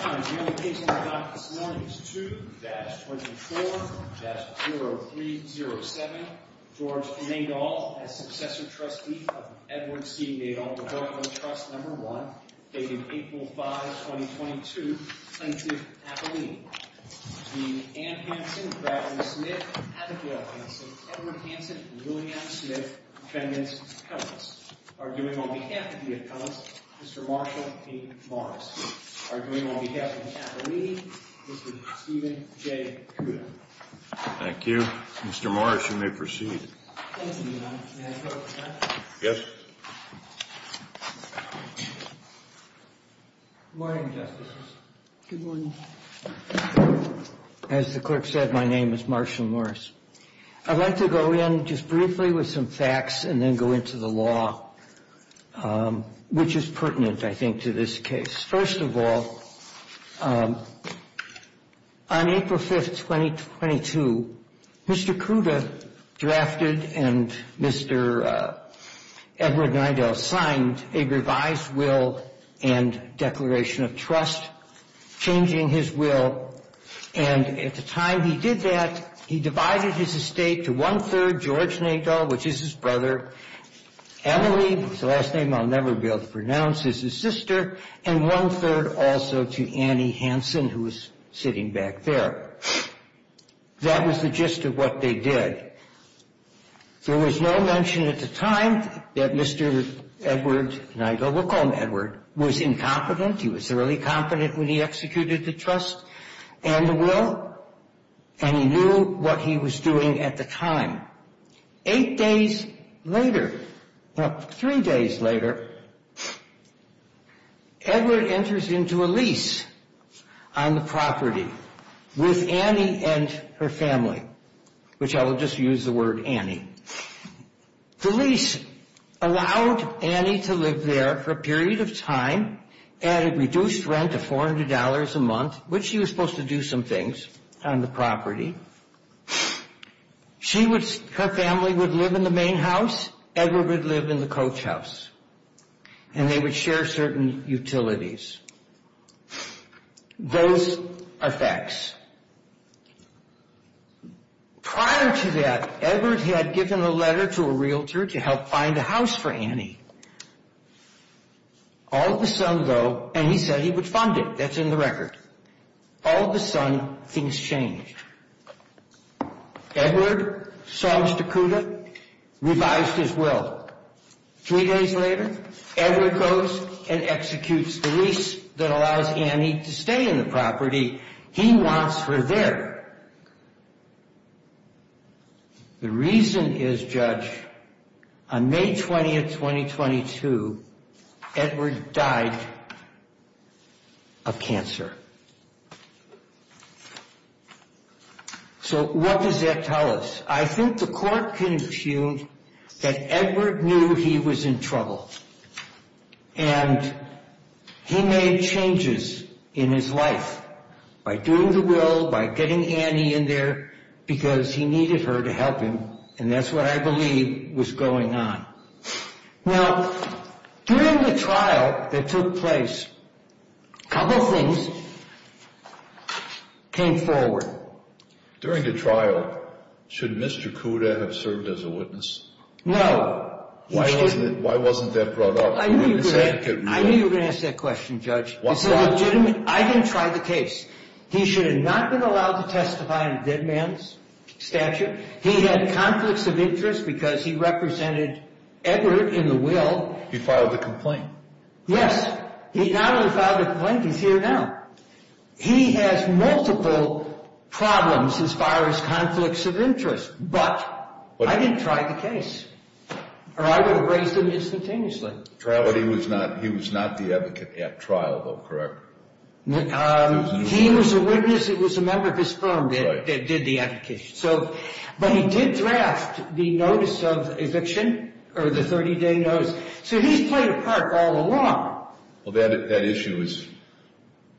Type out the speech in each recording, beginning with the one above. On a yearly basis, I got this morning's two, that's 24, that's 0307, George Nadel, as successor trustee of Edward C. Nadel, the Berkman Trust No. 1, dated April 5, 2022, plaintiff, appellee. The Ann Hansen, Bradley Smith, appellee, St. Edward Hansen, William Smith, defendants, appellants. Arguing on behalf of the appellants, Mr. Marshall P. Morris. Arguing on behalf of the appellee, Mr. Stephen J. Kruger. Thank you. Mr. Morris, you may proceed. Thank you, Your Honor. May I close, Your Honor? Yes. Good morning, Justices. Good morning. As the clerk said, my name is Marshall Morris. I'd like to go in just briefly with some facts and then go into the law, which is pertinent, I think, to this case. First of all, on April 5, 2022, Mr. Kruger drafted and Mr. Edward Nadel signed a revised will and declaration of trust, changing his will. And at the time he did that, he divided his estate to one-third, George Nadel, which is his brother. Emily, whose last name I'll never be able to pronounce, is his sister. And one-third also to Annie Hansen, who is sitting back there. That was the gist of what they did. There was no mention at the time that Mr. Edward Nadel, we'll call him Edward, was incompetent. He was thoroughly competent when he executed the trust and the will, and he knew what he was doing at the time. Eight days later, well, three days later, Edward enters into a lease on the property with Annie and her family, which I will just use the word Annie. The lease allowed Annie to live there for a period of time at a reduced rent of $400 a month, which she was supposed to do some things on the property. Her family would live in the main house. Edward would live in the coach house, and they would share certain utilities. Those are facts. Prior to that, Edward had given a letter to a realtor to help find a house for Annie. All of a sudden, though, and he said he would fund it. That's in the record. All of a sudden, things changed. Edward sawms to CUDA, revised his will. Three days later, Edward goes and executes the lease that allows Annie to stay in the property. He wants her there. The reason is, Judge, on May 20th, 2022, Edward died of cancer. So what does that tell us? I think the court confused that Edward knew he was in trouble, and he made changes in his life by doing the will, by getting Annie in there, because he needed her to help him, and that's what I believe was going on. Now, during the trial that took place, a couple things came forward. During the trial, should Mr. CUDA have served as a witness? Why wasn't that brought up? I knew you were going to ask that question, Judge. I didn't try the case. He should have not been allowed to testify in a dead man's statute. He had conflicts of interest because he represented Edward in the will. He filed the complaint. Yes. He not only filed the complaint, he's here now. He has multiple problems as far as conflicts of interest, but I didn't try the case, or I would have raised him instantaneously. But he was not the advocate at trial, though, correct? He was a witness. It was a member of his firm that did the application. But he did draft the notice of eviction, or the 30-day notice. So he's played a part all along. Well, that issue is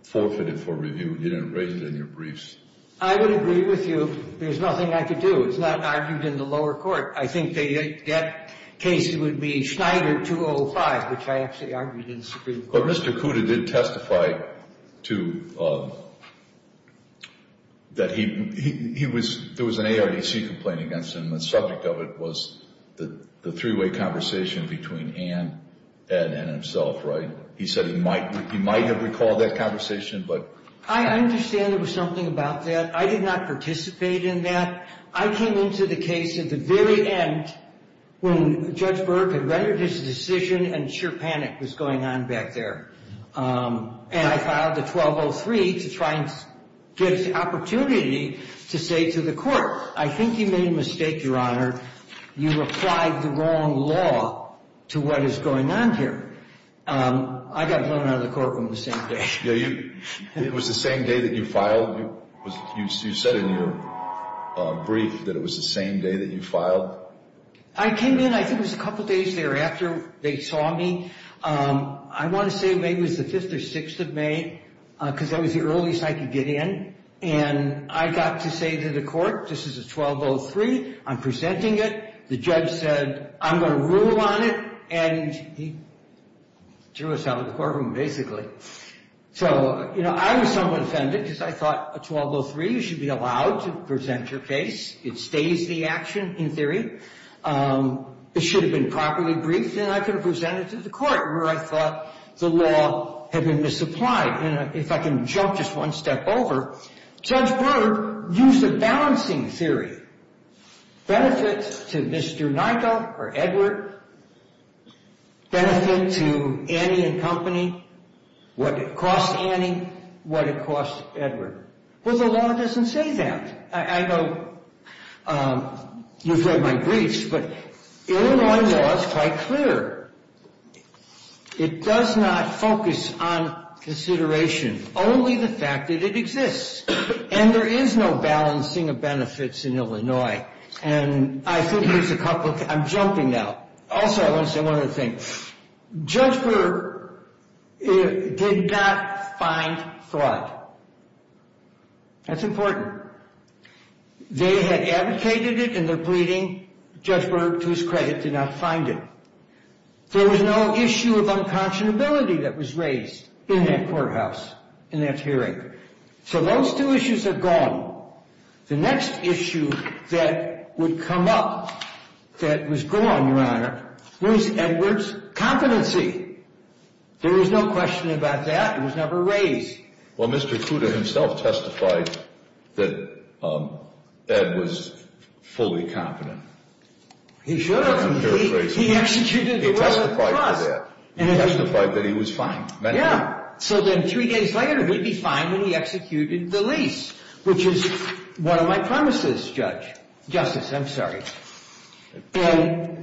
forfeited for review. You didn't raise it in your briefs. I would agree with you. There's nothing I could do. It's not argued in the lower court. I think that case would be Schneider 205, which I actually argued in the Supreme Court. But Mr. Kuda did testify that there was an ARDC complaint against him. The subject of it was the three-way conversation between Ann, Ed, and himself, right? He said he might have recalled that conversation. I understand there was something about that. I did not participate in that. I came into the case at the very end when Judge Burke had rendered his decision and sheer panic was going on back there. And I filed a 1203 to try and get an opportunity to say to the court, I think you made a mistake, Your Honor. You applied the wrong law to what is going on here. I got blown out of the courtroom the same day. It was the same day that you filed? You said in your brief that it was the same day that you filed? I came in, I think it was a couple days thereafter they saw me. I want to say maybe it was the 5th or 6th of May because that was the earliest I could get in. And I got to say to the court, this is a 1203, I'm presenting it. The judge said, I'm going to rule on it. And he threw us out of the courtroom basically. So, you know, I was somewhat offended because I thought a 1203, you should be allowed to present your case. It stays the action in theory. It should have been properly briefed and I could have presented it to the court where I thought the law had been misapplied. And if I can jump just one step over, Judge Burke used a balancing theory. Benefit to Mr. Nigel or Edward, benefit to Annie and Company, what it costs Annie, what it costs Edward. Well, the law doesn't say that. I know you've read my briefs, but Illinois law is quite clear. It does not focus on consideration, only the fact that it exists. And there is no balancing of benefits in Illinois. And I think there's a couple, I'm jumping now. Also, I want to say one other thing. Judge Burke did not find fraud. That's important. They had advocated it in their pleading. Judge Burke, to his credit, did not find it. There was no issue of unconscionability that was raised in that courthouse, in that hearing. So those two issues are gone. The next issue that would come up that was gone, Your Honor, was Edward's competency. There is no question about that. It was never raised. Well, Mr. Kuda himself testified that Ed was fully competent. He should have. I'm paraphrasing. He executed the role of trust. He testified for that. He testified that he was fine. Yeah. So then three days later, he'd be fine when he executed the lease, which is one of my promises, Justice. I'm sorry.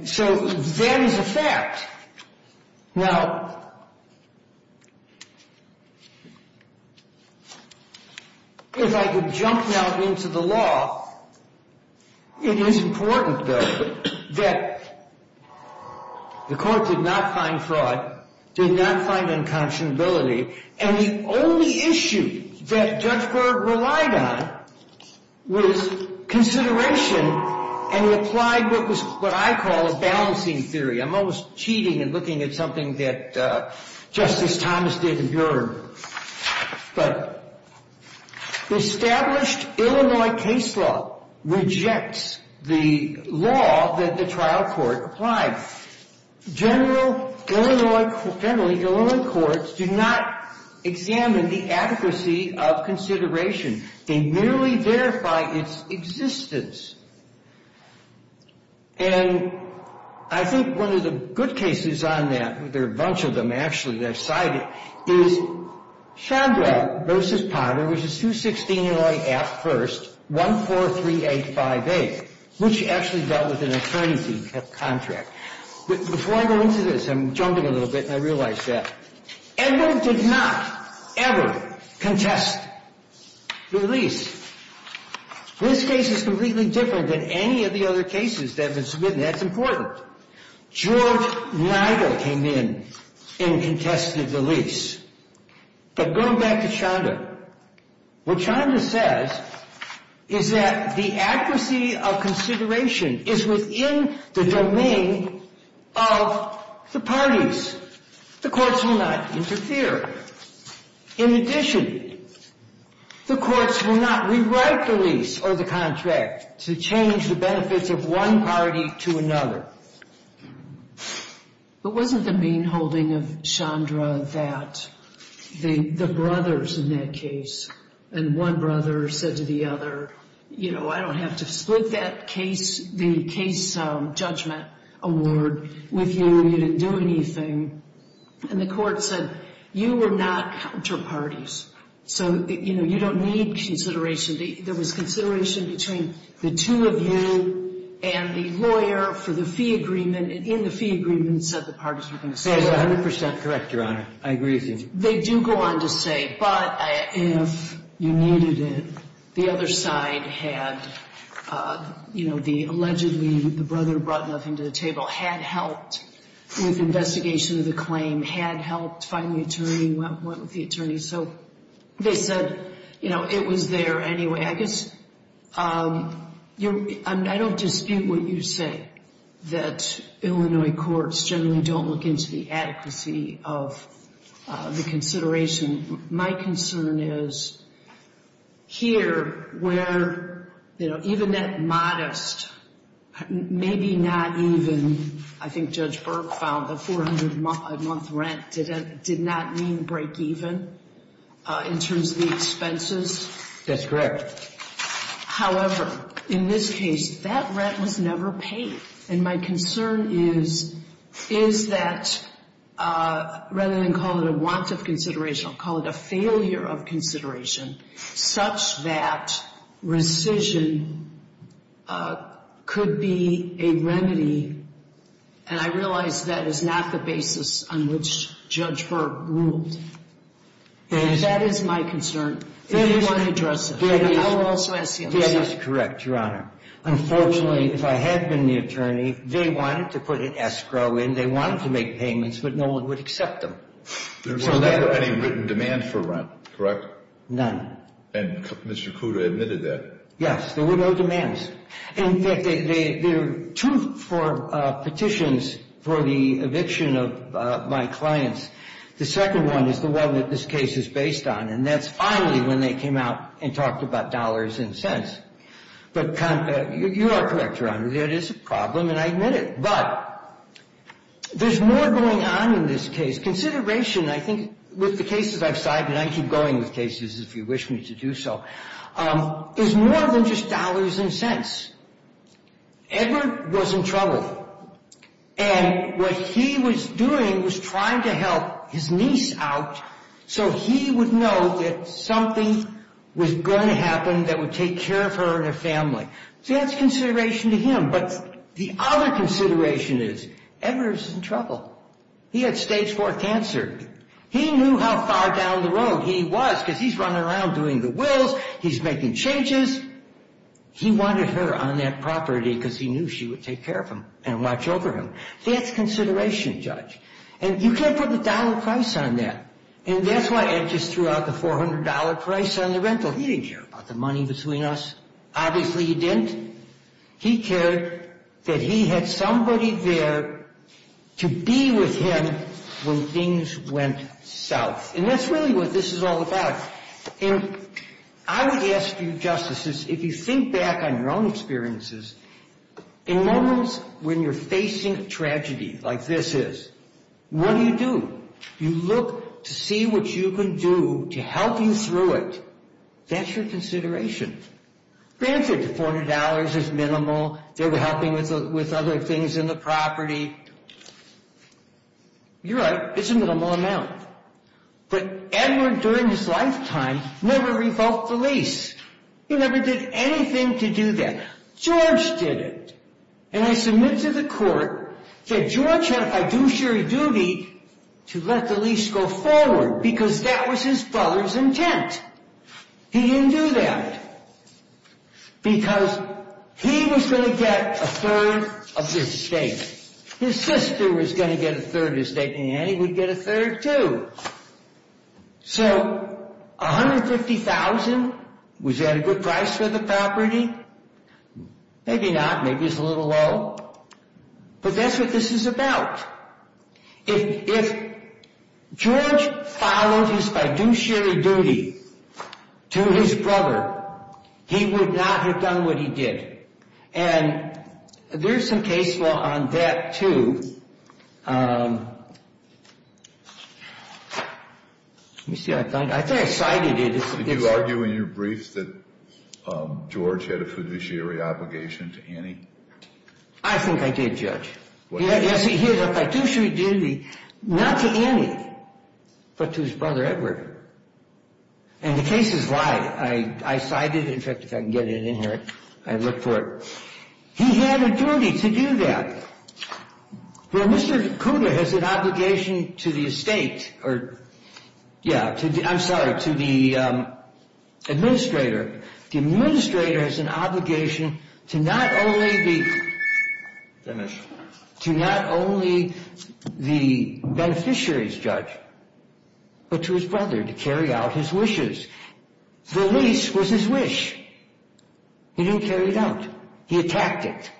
So that is a fact. Now, if I could jump now into the law, it is important, though, that the Court did not find fraud, did not find unconscionability, and the only issue that Judge Burke relied on was consideration and applied what I call a balancing theory. I'm almost cheating and looking at something that Justice Thomas did in Bureau. But the established Illinois case law rejects the law that the trial court applied. Now, generally, Illinois courts do not examine the adequacy of consideration. They merely verify its existence. And I think one of the good cases on that, there are a bunch of them, actually, that I've cited, is Chandra v. Potter, which is 216 Illinois Act I, 143858, which actually dealt with an attorney contract. Before I go into this, I'm jumping a little bit, and I realize that. Edward did not ever contest the lease. This case is completely different than any of the other cases that have been submitted, and that's important. George Nigel came in and contested the lease. But going back to Chandra, what Chandra says is that the accuracy of consideration is within the domain of the parties. The courts will not interfere. In addition, the courts will not rewrite the lease or the contract to change the benefits of one party to another. But wasn't the main holding of Chandra that the brothers in that case, and one brother said to the other, you know, I don't have to split that case, the case judgment award with you. You didn't do anything. And the court said, you were not counterparties. So, you know, you don't need consideration. There was consideration between the two of you and the lawyer for the fee agreement, and in the fee agreement said the parties were going to split. That is 100% correct, Your Honor. I agree with you. They do go on to say, but if you needed it, the other side had, you know, allegedly the brother brought nothing to the table, had helped with investigation of the claim, had helped find the attorney, went with the attorney. So they said, you know, it was there anyway. I guess I don't dispute what you say, that Illinois courts generally don't look into the adequacy of the consideration. My concern is here where, you know, even at modest, maybe not even, I think Judge Burke found, a 400-month rent did not mean break even in terms of the expenses. That's correct. However, in this case, that rent was never paid. And my concern is, is that rather than call it a want of consideration, I'll call it a failure of consideration, such that rescission could be a remedy, and I realize that is not the basis on which Judge Burke ruled. And that is my concern. If you want to address it, I will also ask you. That is correct, Your Honor. Unfortunately, if I had been the attorney, they wanted to put an escrow in. They wanted to make payments, but no one would accept them. There was never any written demand for rent, correct? None. And Mr. Kuda admitted that. Yes. There were no demands. In fact, there are two petitions for the eviction of my clients. The second one is the one that this case is based on, and that's finally when they came out and talked about dollars and cents. But you are correct, Your Honor, there is a problem, and I admit it. But there's more going on in this case. Consideration, I think, with the cases I've cited, and I keep going with cases if you wish me to do so, is more than just dollars and cents. Edward was in trouble. And what he was doing was trying to help his niece out so he would know that something was going to happen that would take care of her and her family. So that's consideration to him. But the other consideration is Edward was in trouble. He had stage IV cancer. He knew how far down the road he was because he's running around doing the wills, he's making changes. He wanted her on that property because he knew she would take care of him and watch over him. That's consideration, Judge. And you can't put the dollar price on that. And that's why Ed just threw out the $400 price on the rental. He didn't care about the money between us. Obviously, he didn't. He cared that he had somebody there to be with him when things went south. And that's really what this is all about. And I would ask you, Justices, if you think back on your own experiences, in moments when you're facing tragedy like this is, what do you do? You look to see what you can do to help you through it. That's your consideration. Granted, the $400 is minimal. They were helping with other things in the property. You're right. It's a minimal amount. But Edward, during his lifetime, never revoked the lease. He never did anything to do that. George did it. And I submit to the court that George had a fiduciary duty to let the lease go forward because that was his brother's intent. He didn't do that because he was going to get a third of his stake. His sister was going to get a third of his stake, and he would get a third, too. So $150,000, was that a good price for the property? Maybe not. Maybe it's a little low. But that's what this is about. If George followed his fiduciary duty to his brother, he would not have done what he did. And there's some case law on that, too. Let me see. I thought I cited it. Did you argue in your briefs that George had a fiduciary obligation to Annie? I think I did, Judge. Yes, he had a fiduciary duty, not to Annie, but to his brother Edward. And the case is live. I cited it. Let me check if I can get it in here. I looked for it. He had a duty to do that. Well, Mr. Cooter has an obligation to the estate or, yeah, I'm sorry, to the administrator. The administrator has an obligation to not only the beneficiaries, Judge, but to his brother to carry out his wishes. The lease was his wish. He didn't carry it out. He attacked it.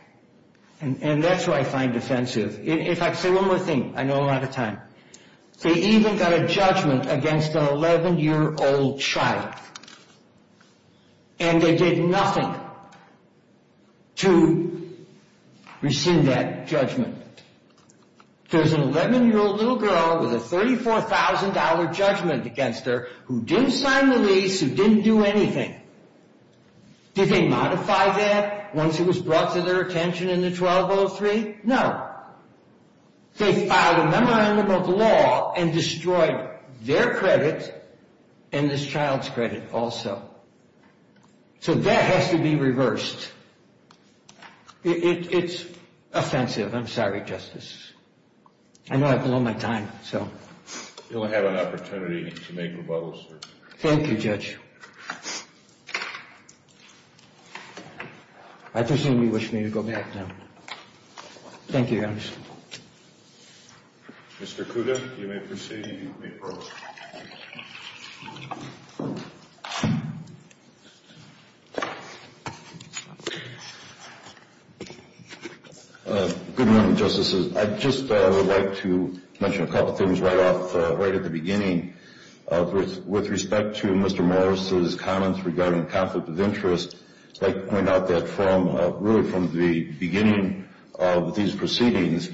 And that's where I find offensive. In fact, say one more thing. I know I'm out of time. They even got a judgment against an 11-year-old child. And they did nothing to rescind that judgment. There's an 11-year-old little girl with a $34,000 judgment against her who didn't sign the lease, who didn't do anything. Did they modify that once it was brought to their attention in the 1203? No. They filed a memorandum of law and destroyed their credit and this child's credit also. So that has to be reversed. It's offensive. I'm sorry, Justice. I know I've blown my time, so. You'll have an opportunity to make rebuttals, sir. Thank you, Judge. I presume you wish me to go back now. Thank you, Your Honor. Mr. Kuda, you may proceed and you may approach. Good morning, Justices. I'd just like to mention a couple things right at the beginning. With respect to Mr. Morris's comments regarding conflict of interest, I'd like to point out that really from the beginning of these proceedings,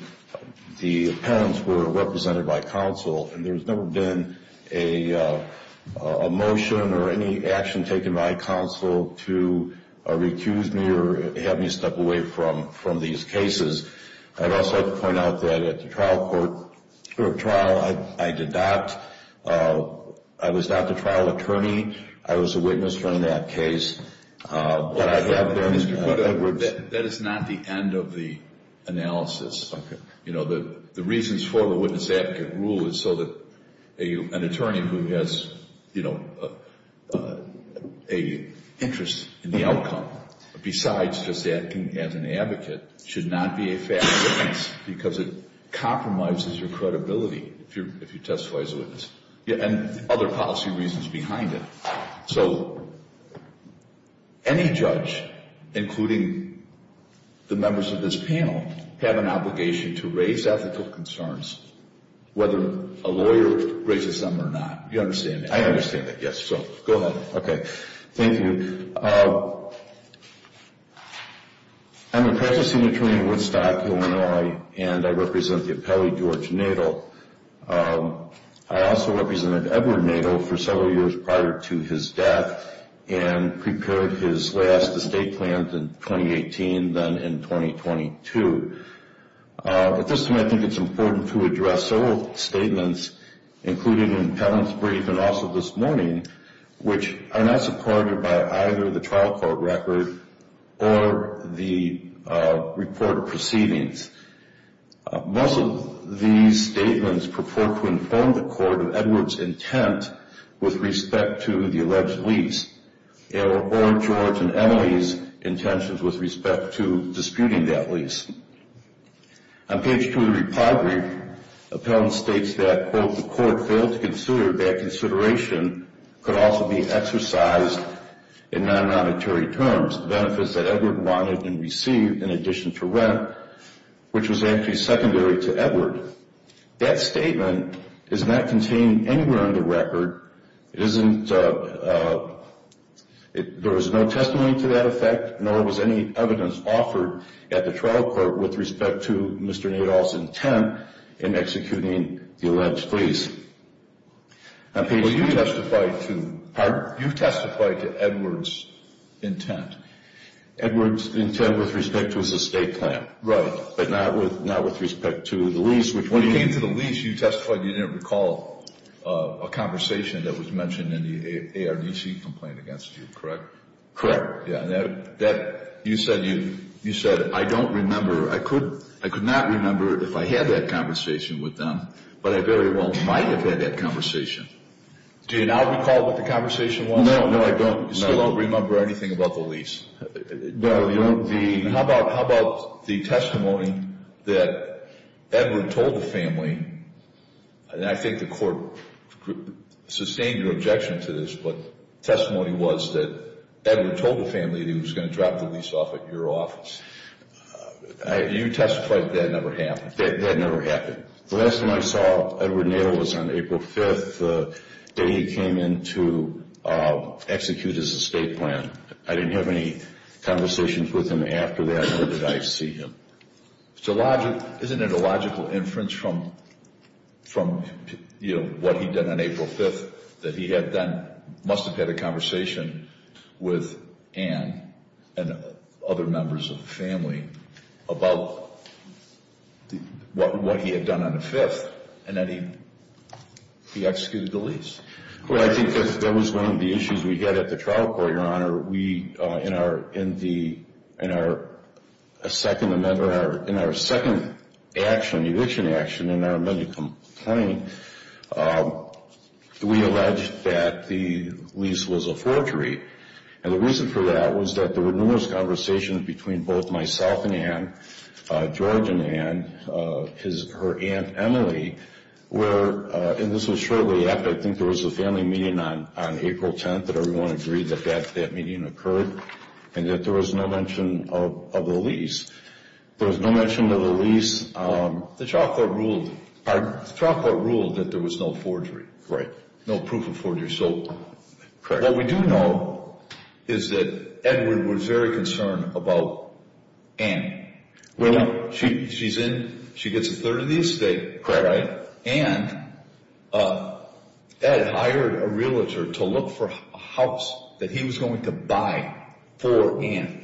the parents were represented by counsel, and there's never been a motion or any action taken by counsel to recuse me or have me step away from these cases. I'd also like to point out that at the trial, I was not the trial attorney. I was a witness during that case. That is not the end of the analysis. You know, the reasons for the witness-advocate rule is so that an attorney who has, you know, an interest in the outcome besides just acting as an advocate should not be a fair witness because it compromises your credibility if you testify as a witness, and other policy reasons behind it. So any judge, including the members of this panel, have an obligation to raise ethical concerns, whether a lawyer raises them or not. You understand that? I understand that, yes. So go ahead. Okay. Thank you. I'm a practicing attorney in Woodstock, Illinois, and I represent the appellee, George Nadel. I also represented Edward Nadel for several years prior to his death and prepared his last estate plan in 2018, then in 2022. At this time, I think it's important to address several statements, including in Penance Brief and also this morning, which are not supported by either the trial court record or the report of proceedings. Most of these statements purport to inform the court of Edward's intent with respect to the alleged lease or George and Emily's intentions with respect to disputing that lease. On page 2 of the Repatriate Appellant states that, quote, the court failed to consider that consideration could also be exercised in non-monetary terms. The benefits that Edward wanted and received in addition to rent, which was actually secondary to Edward. That statement is not contained anywhere on the record. It isn't – there was no testimony to that effect, nor was any evidence offered at the trial court with respect to Mr. Nadel's intent in executing the alleged lease. On page 2. Well, you testified to – Pardon? You testified to Edward's intent. Edward's intent with respect to his estate plan. Right. But not with respect to the lease, which – When it came to the lease, you testified you didn't recall a conversation that was mentioned in the ARDC complaint against you, correct? Correct. You said, I don't remember – I could not remember if I had that conversation with them, but I very well might have had that conversation. Do you now recall what the conversation was? No, no, I don't. You still don't remember anything about the lease? No, no. How about the testimony that Edward told the family, and I think the court sustained your objection to this, but the testimony was that Edward told the family that he was going to drop the lease off at your office. You testified that that never happened. That never happened. The last time I saw Edward Nadel was on April 5th, the day he came in to execute his estate plan. I didn't have any conversations with him after that, nor did I see him. Isn't it a logical inference from, you know, what he did on April 5th, that he must have had a conversation with Ann and other members of the family about what he had done on the 5th, and then he executed the lease? Well, I think that was one of the issues we had at the trial court, Your Honor. In our second eviction action, in our amended complaint, we alleged that the lease was a forgery, and the reason for that was that there were numerous conversations between both myself and Ann, George and Ann, her Aunt Emily, where, and this was shortly after, I think there was a family meeting on April 10th that everyone agreed that that meeting occurred, and that there was no mention of the lease. There was no mention of the lease. The trial court ruled that there was no forgery. Right. No proof of forgery. So what we do know is that Edward was very concerned about Ann. Well, she's in. She gets a third of the estate. Right. And Ed hired a realtor to look for a house that he was going to buy for Ann.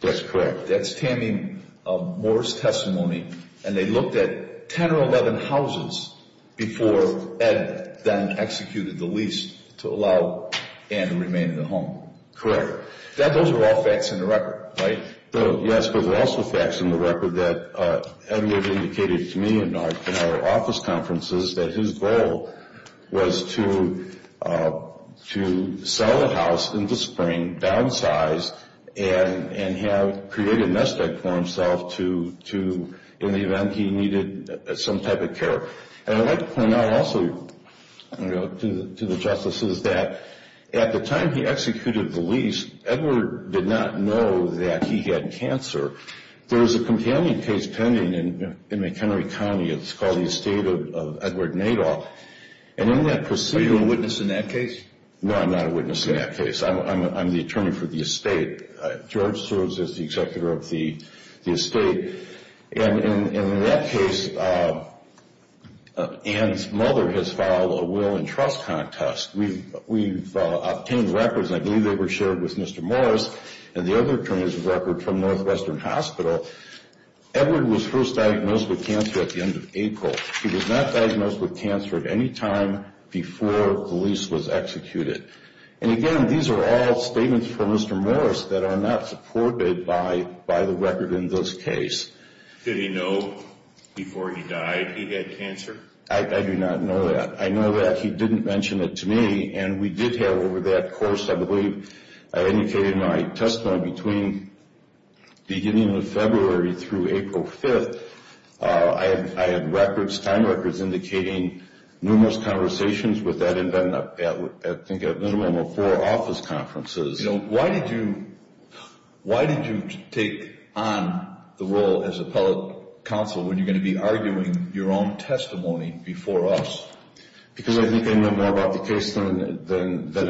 That's correct. That's Tammy Moore's testimony, and they looked at 10 or 11 houses before Ed then executed the lease to allow Ann to remain in the home. Correct. Those are all facts in the record, right? Yes, but there are also facts in the record that Edward indicated to me in our office conferences that his goal was to sell the house in the spring, downsize, and have created a nest egg for himself in the event he needed some type of care. And I'd like to point out also to the justices that at the time he executed the lease, Edward did not know that he had cancer. There was a companion case pending in McHenry County. It's called the estate of Edward Nadol. Are you a witness in that case? No, I'm not a witness in that case. I'm the attorney for the estate. George serves as the executor of the estate. And in that case, Ann's mother has filed a will and trust contest. We've obtained records, and I believe they were shared with Mr. Morris, and the other attorney's record from Northwestern Hospital. Edward was first diagnosed with cancer at the end of April. He was not diagnosed with cancer at any time before the lease was executed. And, again, these are all statements from Mr. Morris that are not supported by the record in this case. Did he know before he died he had cancer? I do not know that. I know that he didn't mention it to me, and we did have over that course, I believe, I indicated in my testimony between beginning of February through April 5th, I had records, time records indicating numerous conversations with that and then I think a minimum of four office conferences. Why did you take on the role as appellate counsel when you're going to be arguing your own testimony before us? Because I think I know more about the case than...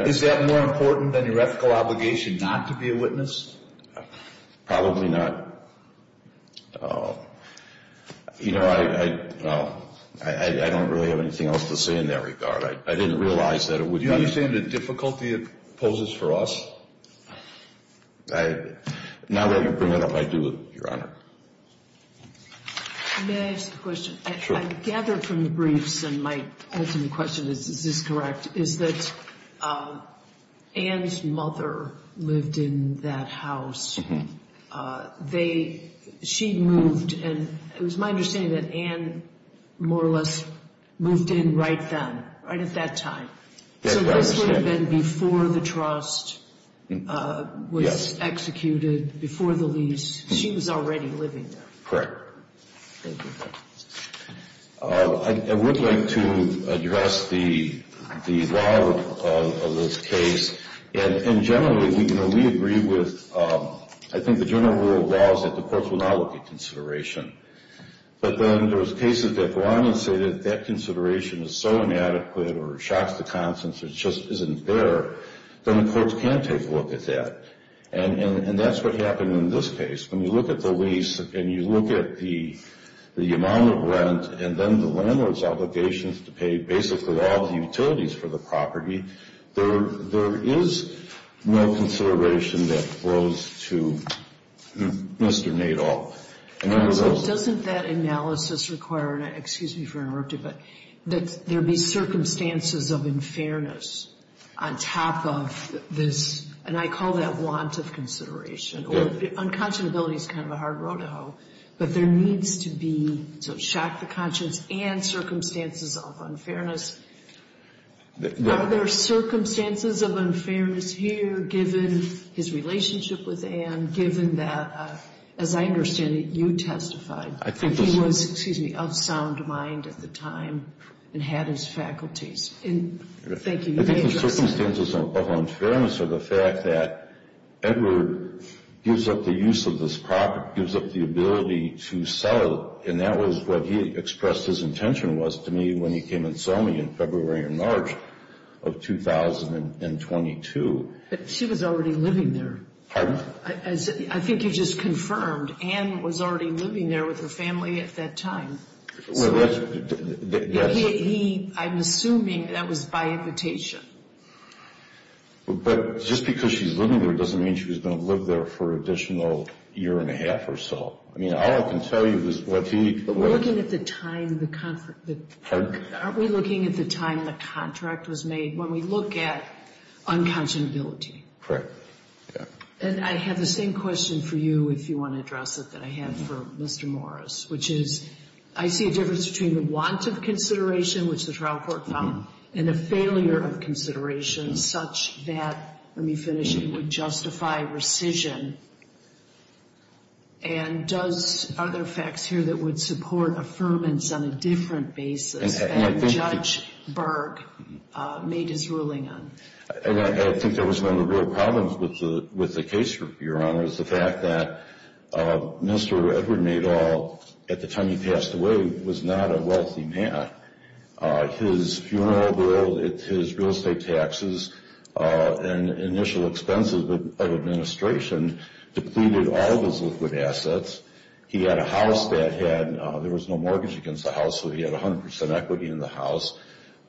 Is that more important than your ethical obligation not to be a witness? Probably not. You know, I don't really have anything else to say in that regard. I didn't realize that it would be... Do you understand the difficulty it poses for us? Now that you bring it up, I do, Your Honor. May I ask a question? Sure. I gathered from the briefs, and my ultimate question is, is this correct, is that Anne's mother lived in that house. She moved, and it was my understanding that Anne more or less moved in right then, right at that time. Yes, I understand. So this would have been before the trust was executed, before the lease. She was already living there. Correct. I would like to address the law of this case. And generally, you know, we agree with, I think, the general rule of law is that the courts will not look at consideration. But then there's cases that go on and say that that consideration is so inadequate or shocks the conscience or just isn't there, then the courts can't take a look at that. And that's what happened in this case. When you look at the lease and you look at the amount of rent and then the landlord's obligations to pay basically all the utilities for the property, there is no consideration that flows to Mr. Nadol. Doesn't that analysis require, and excuse me for interrupting, but that there be circumstances of unfairness on top of this, and I call that want of consideration. Unconscionability is kind of a hard road to hoe, but there needs to be, so shock the conscience and circumstances of unfairness. Are there circumstances of unfairness here given his relationship with Anne, given that, as I understand it, you testified. He was, excuse me, of sound mind at the time and had his faculties. Thank you. I think the circumstances of unfairness are the fact that Edward gives up the use of this property, gives up the ability to sell it, and that was what he expressed his intention was to me when he came and saw me in February and March of 2022. But she was already living there. Pardon? I think you just confirmed Anne was already living there with her family at that time. Well, that's, yes. He, I'm assuming that was by invitation. But just because she's living there doesn't mean she was going to live there for an additional year and a half or so. I mean, all I can tell you is what he. But looking at the time, aren't we looking at the time the contract was made? When we look at unconscionability. Correct. And I have the same question for you if you want to address it that I have for Mr. Morris, which is I see a difference between the want of consideration, which the trial court found, and a failure of consideration such that, let me finish, it would justify rescission. And are there facts here that would support affirmance on a different basis than Judge Berg made his ruling on? I think that was one of the real problems with the case, Your Honor, is the fact that Mr. Edward Madoll, at the time he passed away, was not a wealthy man. His funeral bill, his real estate taxes, and initial expenses of administration depleted all of his liquid assets. He had a house that had, there was no mortgage against the house, so he had 100% equity in the house.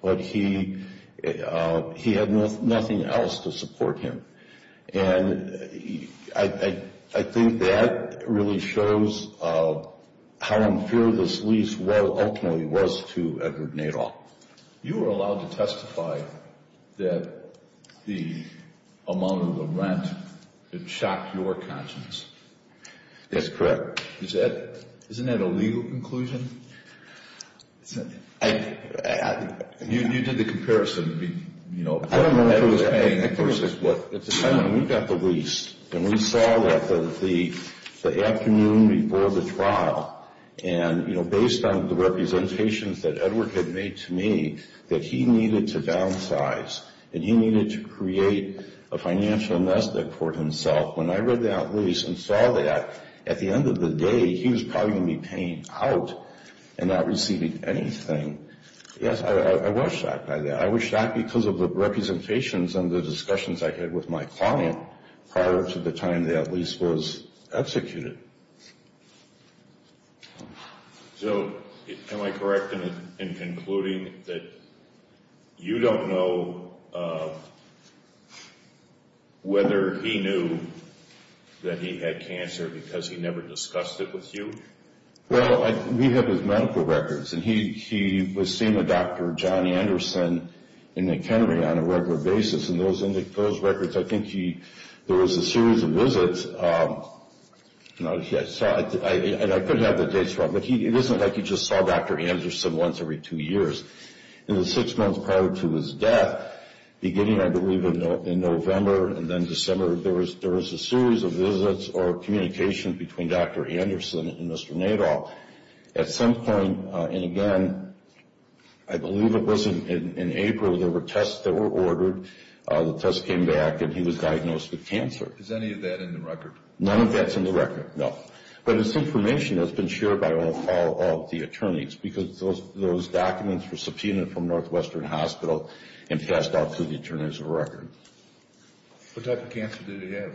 But he had nothing else to support him. And I think that really shows how unfair this lease ultimately was to Edward Madoll. You were allowed to testify that the amount of the rent, it shocked your conscience. That's correct. Isn't that a legal conclusion? You did the comparison. I don't know who was paying. We got the lease, and we saw that the afternoon before the trial, and based on the representations that Edward had made to me that he needed to downsize and he needed to create a financial nest egg for himself, when I read that lease and saw that, at the end of the day, he was probably going to be paying out and not receiving anything. Yes, I was shocked by that. I was shocked because of the representations and the discussions I had with my client prior to the time that lease was executed. So am I correct in concluding that you don't know whether he knew that he had cancer because he never discussed it with you? Well, we have his medical records, and he was seeing a doctor, Johnny Anderson, in McHenry on a regular basis, and those records, I think there was a series of visits, and I couldn't have the dates wrong, but it isn't like he just saw Dr. Anderson once every two years. In the six months prior to his death, beginning, I believe, in November and then December, there was a series of visits or communication between Dr. Anderson and Mr. Nadol. At some point, and again, I believe it was in April, there were tests that were ordered. The tests came back, and he was diagnosed with cancer. Is any of that in the record? None of that's in the record, no. But it's information that's been shared by all of the attorneys, because those documents were subpoenaed from Northwestern Hospital and passed off to the attorneys of record. What type of cancer did he have?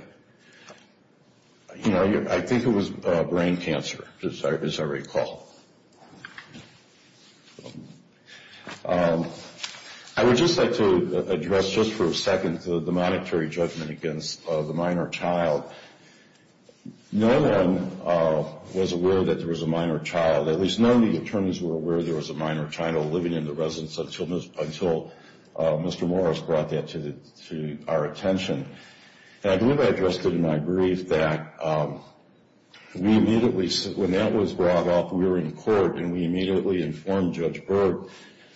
I think it was brain cancer, as I recall. I would just like to address, just for a second, the monetary judgment against the minor child. No one was aware that there was a minor child. At least none of the attorneys were aware there was a minor child living in the residence until Mr. Morris brought that to our attention. And I believe I addressed it in my brief that we immediately, when that was brought up, we were in court and we immediately informed Judge Berg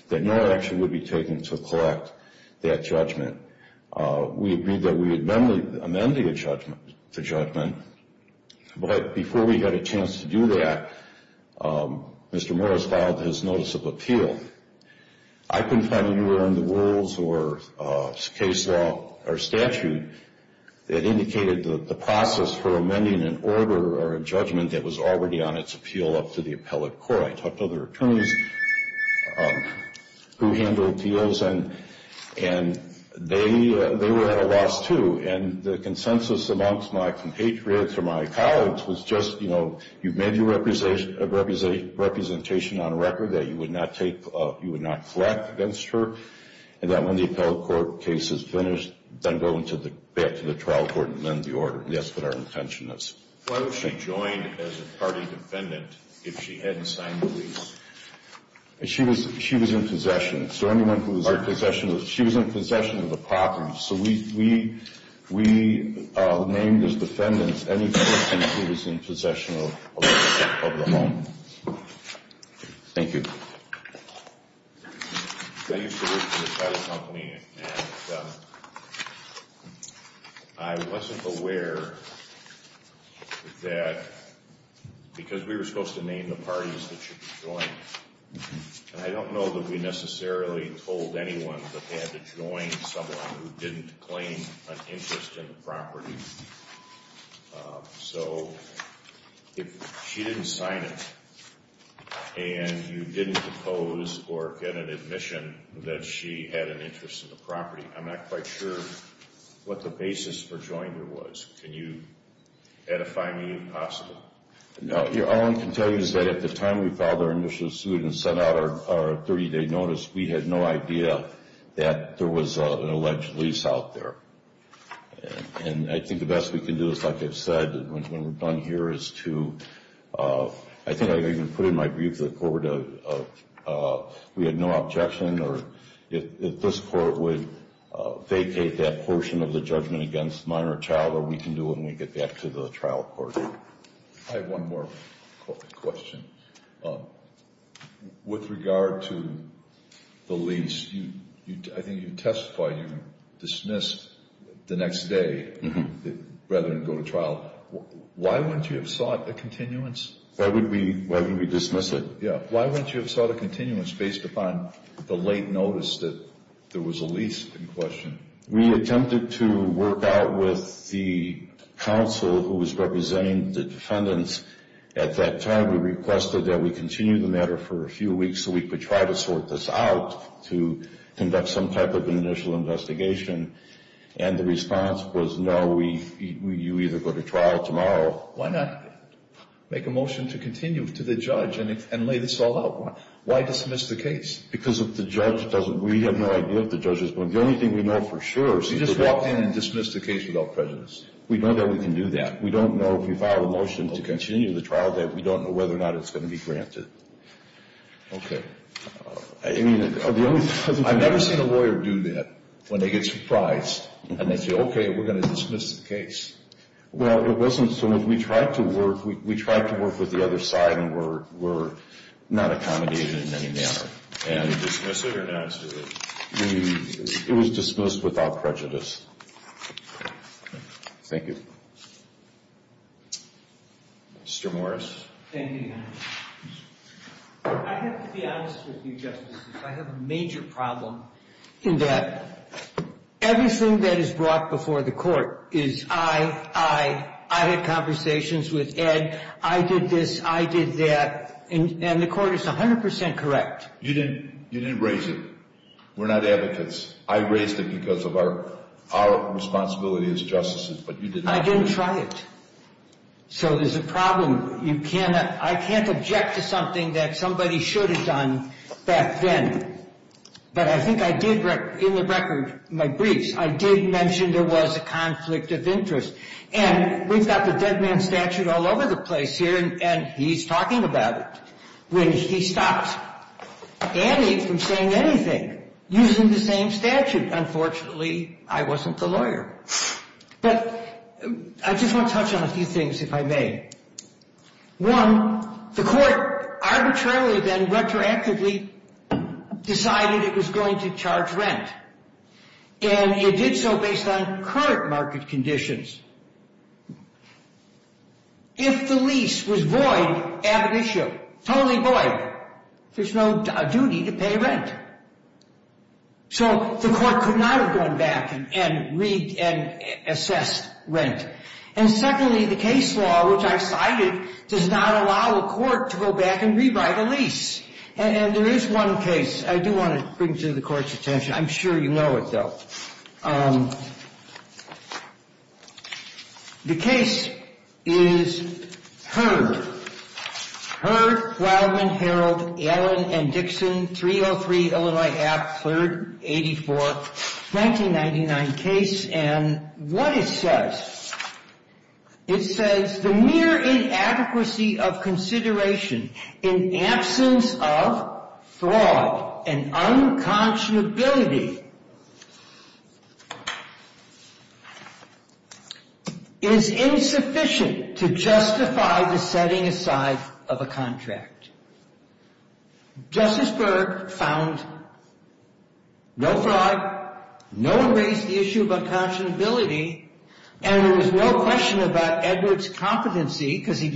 that no action would be taken to collect that judgment. We agreed that we would not only amend the judgment, but before we had a chance to do that, Mr. Morris filed his notice of appeal. I couldn't find anywhere in the rules or case law or statute that indicated the process for amending an order or a judgment that was already on its appeal up to the appellate court. I talked to other attorneys who handled appeals, and they were at a loss, too. And the consensus amongst my compatriots or my colleagues was just, you know, have your representation on record that you would not collect against her, and that when the appellate court case is finished, then go back to the trial court and amend the order. That's what our intention is. Why would she join as a party defendant if she hadn't signed the lease? She was in possession. So anyone who was in possession of the property. So we named as defendants any person who was in possession of the home. Thank you. I used to work for the trial company, and I wasn't aware that because we were supposed to name the parties that should be joined, and I don't know that we necessarily told anyone that they had to join someone who didn't claim an interest in the property. So if she didn't sign it and you didn't propose or get an admission that she had an interest in the property, I'm not quite sure what the basis for joining her was. Can you edify me if possible? All I can tell you is that at the time we filed our initial suit and sent out our 30-day notice, we had no idea that there was an alleged lease out there. And I think the best we can do is, like I've said when we're done here, is to, I think I even put in my brief to the court, we had no objection, or if this court would vacate that portion of the judgment against minor child, what we can do when we get back to the trial court. I have one more question. With regard to the lease, I think you testified you dismissed the next day rather than go to trial. Why wouldn't you have sought a continuance? Why would we dismiss it? Why wouldn't you have sought a continuance based upon the late notice that there was a lease in question? We attempted to work out with the counsel who was representing the defendants at that time. We requested that we continue the matter for a few weeks so we could try to sort this out to conduct some type of an initial investigation. And the response was, no, you either go to trial tomorrow. Well, why not make a motion to continue to the judge and lay this all out? Why dismiss the case? Because if the judge doesn't, we have no idea if the judge is going to, the only thing we know for sure is that. You just walked in and dismissed the case without prejudice. We know that we can do that. We don't know if we file a motion to continue the trial that we don't know whether or not it's going to be granted. Okay. I mean, the only... I've never seen a lawyer do that when they get surprised and they say, okay, we're going to dismiss the case. Well, it wasn't so. We tried to work... We tried to work with the other side and were not accommodated in any manner. And... Did you dismiss it or not? We... It was dismissed without prejudice. Okay. Thank you. Mr. Morris. Thank you, Your Honor. I have to be honest with you, Justice. I have a major problem in that everything that is brought before the court is I, I, I had conversations with Ed. I did this. I did that. And the court is 100 percent correct. You didn't raise it. We're not advocates. I raised it because of our responsibility as justices, but you didn't... I didn't try it. So there's a problem. I can't object to something that somebody should have done back then. But I think I did, in the record, my briefs, I did mention there was a conflict of interest. And we've got the dead man statute all over the place here, and he's talking about it. When he stopped Annie from saying anything using the same statute. Unfortunately, I wasn't the lawyer. But I just want to touch on a few things, if I may. One, the court arbitrarily then retroactively decided it was going to charge rent. And it did so based on current market conditions. If the lease was void, ab initio, totally void, there's no duty to pay rent. So the court could not have gone back and read and assessed rent. And secondly, the case law, which I've cited, does not allow the court to go back and rewrite a lease. And there is one case I do want to bring to the court's attention. I'm sure you know it, though. The case is Heard. Heard, Wildman, Harold, Allen, and Dixon, 303 Illinois Act, 3rd, 84th, 1999 case. And what it says, it says, It says the mere inadequacy of consideration in absence of fraud and unconscionability is insufficient to justify the setting aside of a contract. Justice Berg found no fraud. No one raised the issue about conscionability. And there was no question about Edward's competency, because he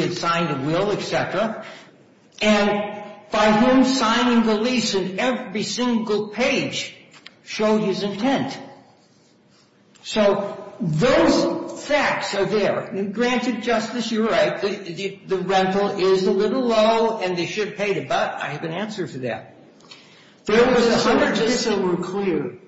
had signed a will, et cetera. And by whom signing the lease in every single page showed his intent. So those facts are there. Granted, Justice, you're right. The rental is a little low, and they should pay it. But I have an answer for that. There was a hundred pieces. Just so we're clear,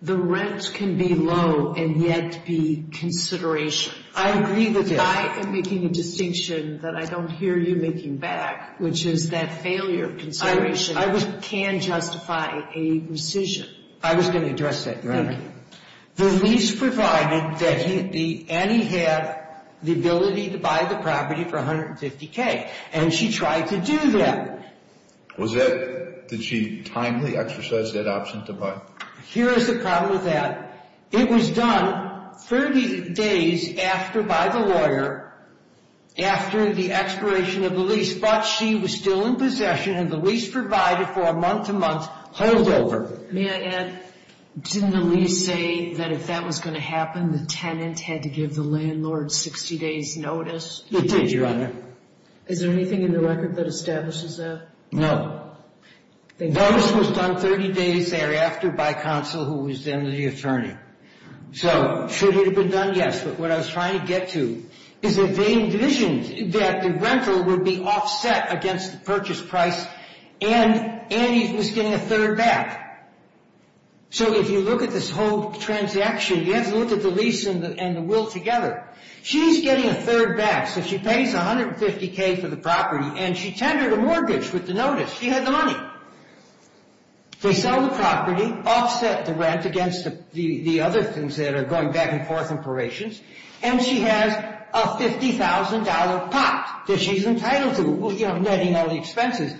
the rent can be low and yet be consideration. I agree with that. I am making a distinction that I don't hear you making back, which is that failure of consideration can justify a rescission. I was going to address that, Your Honor. Thank you. The lease provided that Annie had the ability to buy the property for $150K. And she tried to do that. Did she timely exercise that option to buy? Here is the problem with that. It was done 30 days after by the lawyer, after the expiration of the lease. But she was still in possession, and the lease provided for a month-to-month holdover. May I add, didn't the lease say that if that was going to happen, the tenant had to give the landlord 60 days notice? It did, Your Honor. Is there anything in the record that establishes that? The notice was done 30 days thereafter by counsel who was then the attorney. So should it have been done? Yes. But what I was trying to get to is that they envisioned that the rental would be offset against the purchase price, and Annie was getting a third back. So if you look at this whole transaction, you have to look at the lease and the will together. She's getting a third back, so she pays $150K for the property, and she tendered a mortgage with the notice. She had the money. They sell the property, offset the rent against the other things that are going back and forth in probations, and she has a $50,000 pot that she's entitled to, netting all the expenses,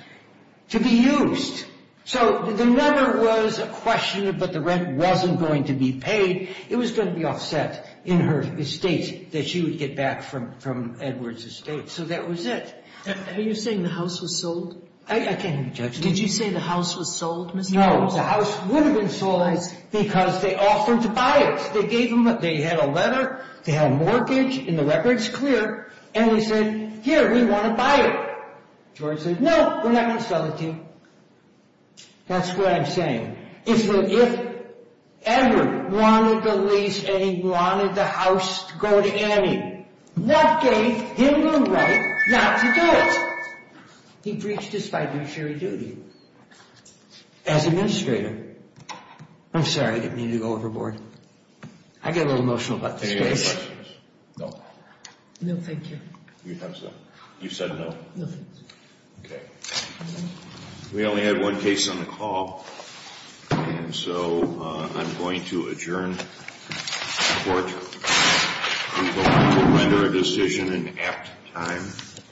to be used. So the number was a question, but the rent wasn't going to be paid. It was going to be offset in her estate that she would get back from Edwards' estate. So that was it. Are you saying the house was sold? I can't hear you, Judge. Did you say the house was sold, Mr. Holmes? No, the house would have been sold because they offered to buy it. They had a letter. They had a mortgage, and the record's clear, and they said, here, we want to buy it. George said, no, we're not going to sell it to you. That's what I'm saying. If Edward wanted the lease and he wanted the house to go to Annie, what gave him the right not to do it? He breached his fiduciary duty as administrator. I'm sorry. I didn't mean to go overboard. I get a little emotional about this case. Any other questions? No. No, thank you. You said no. No, thank you. Okay. We only had one case on the call, and so I'm going to adjourn the court. I'm going to render a decision in apt time.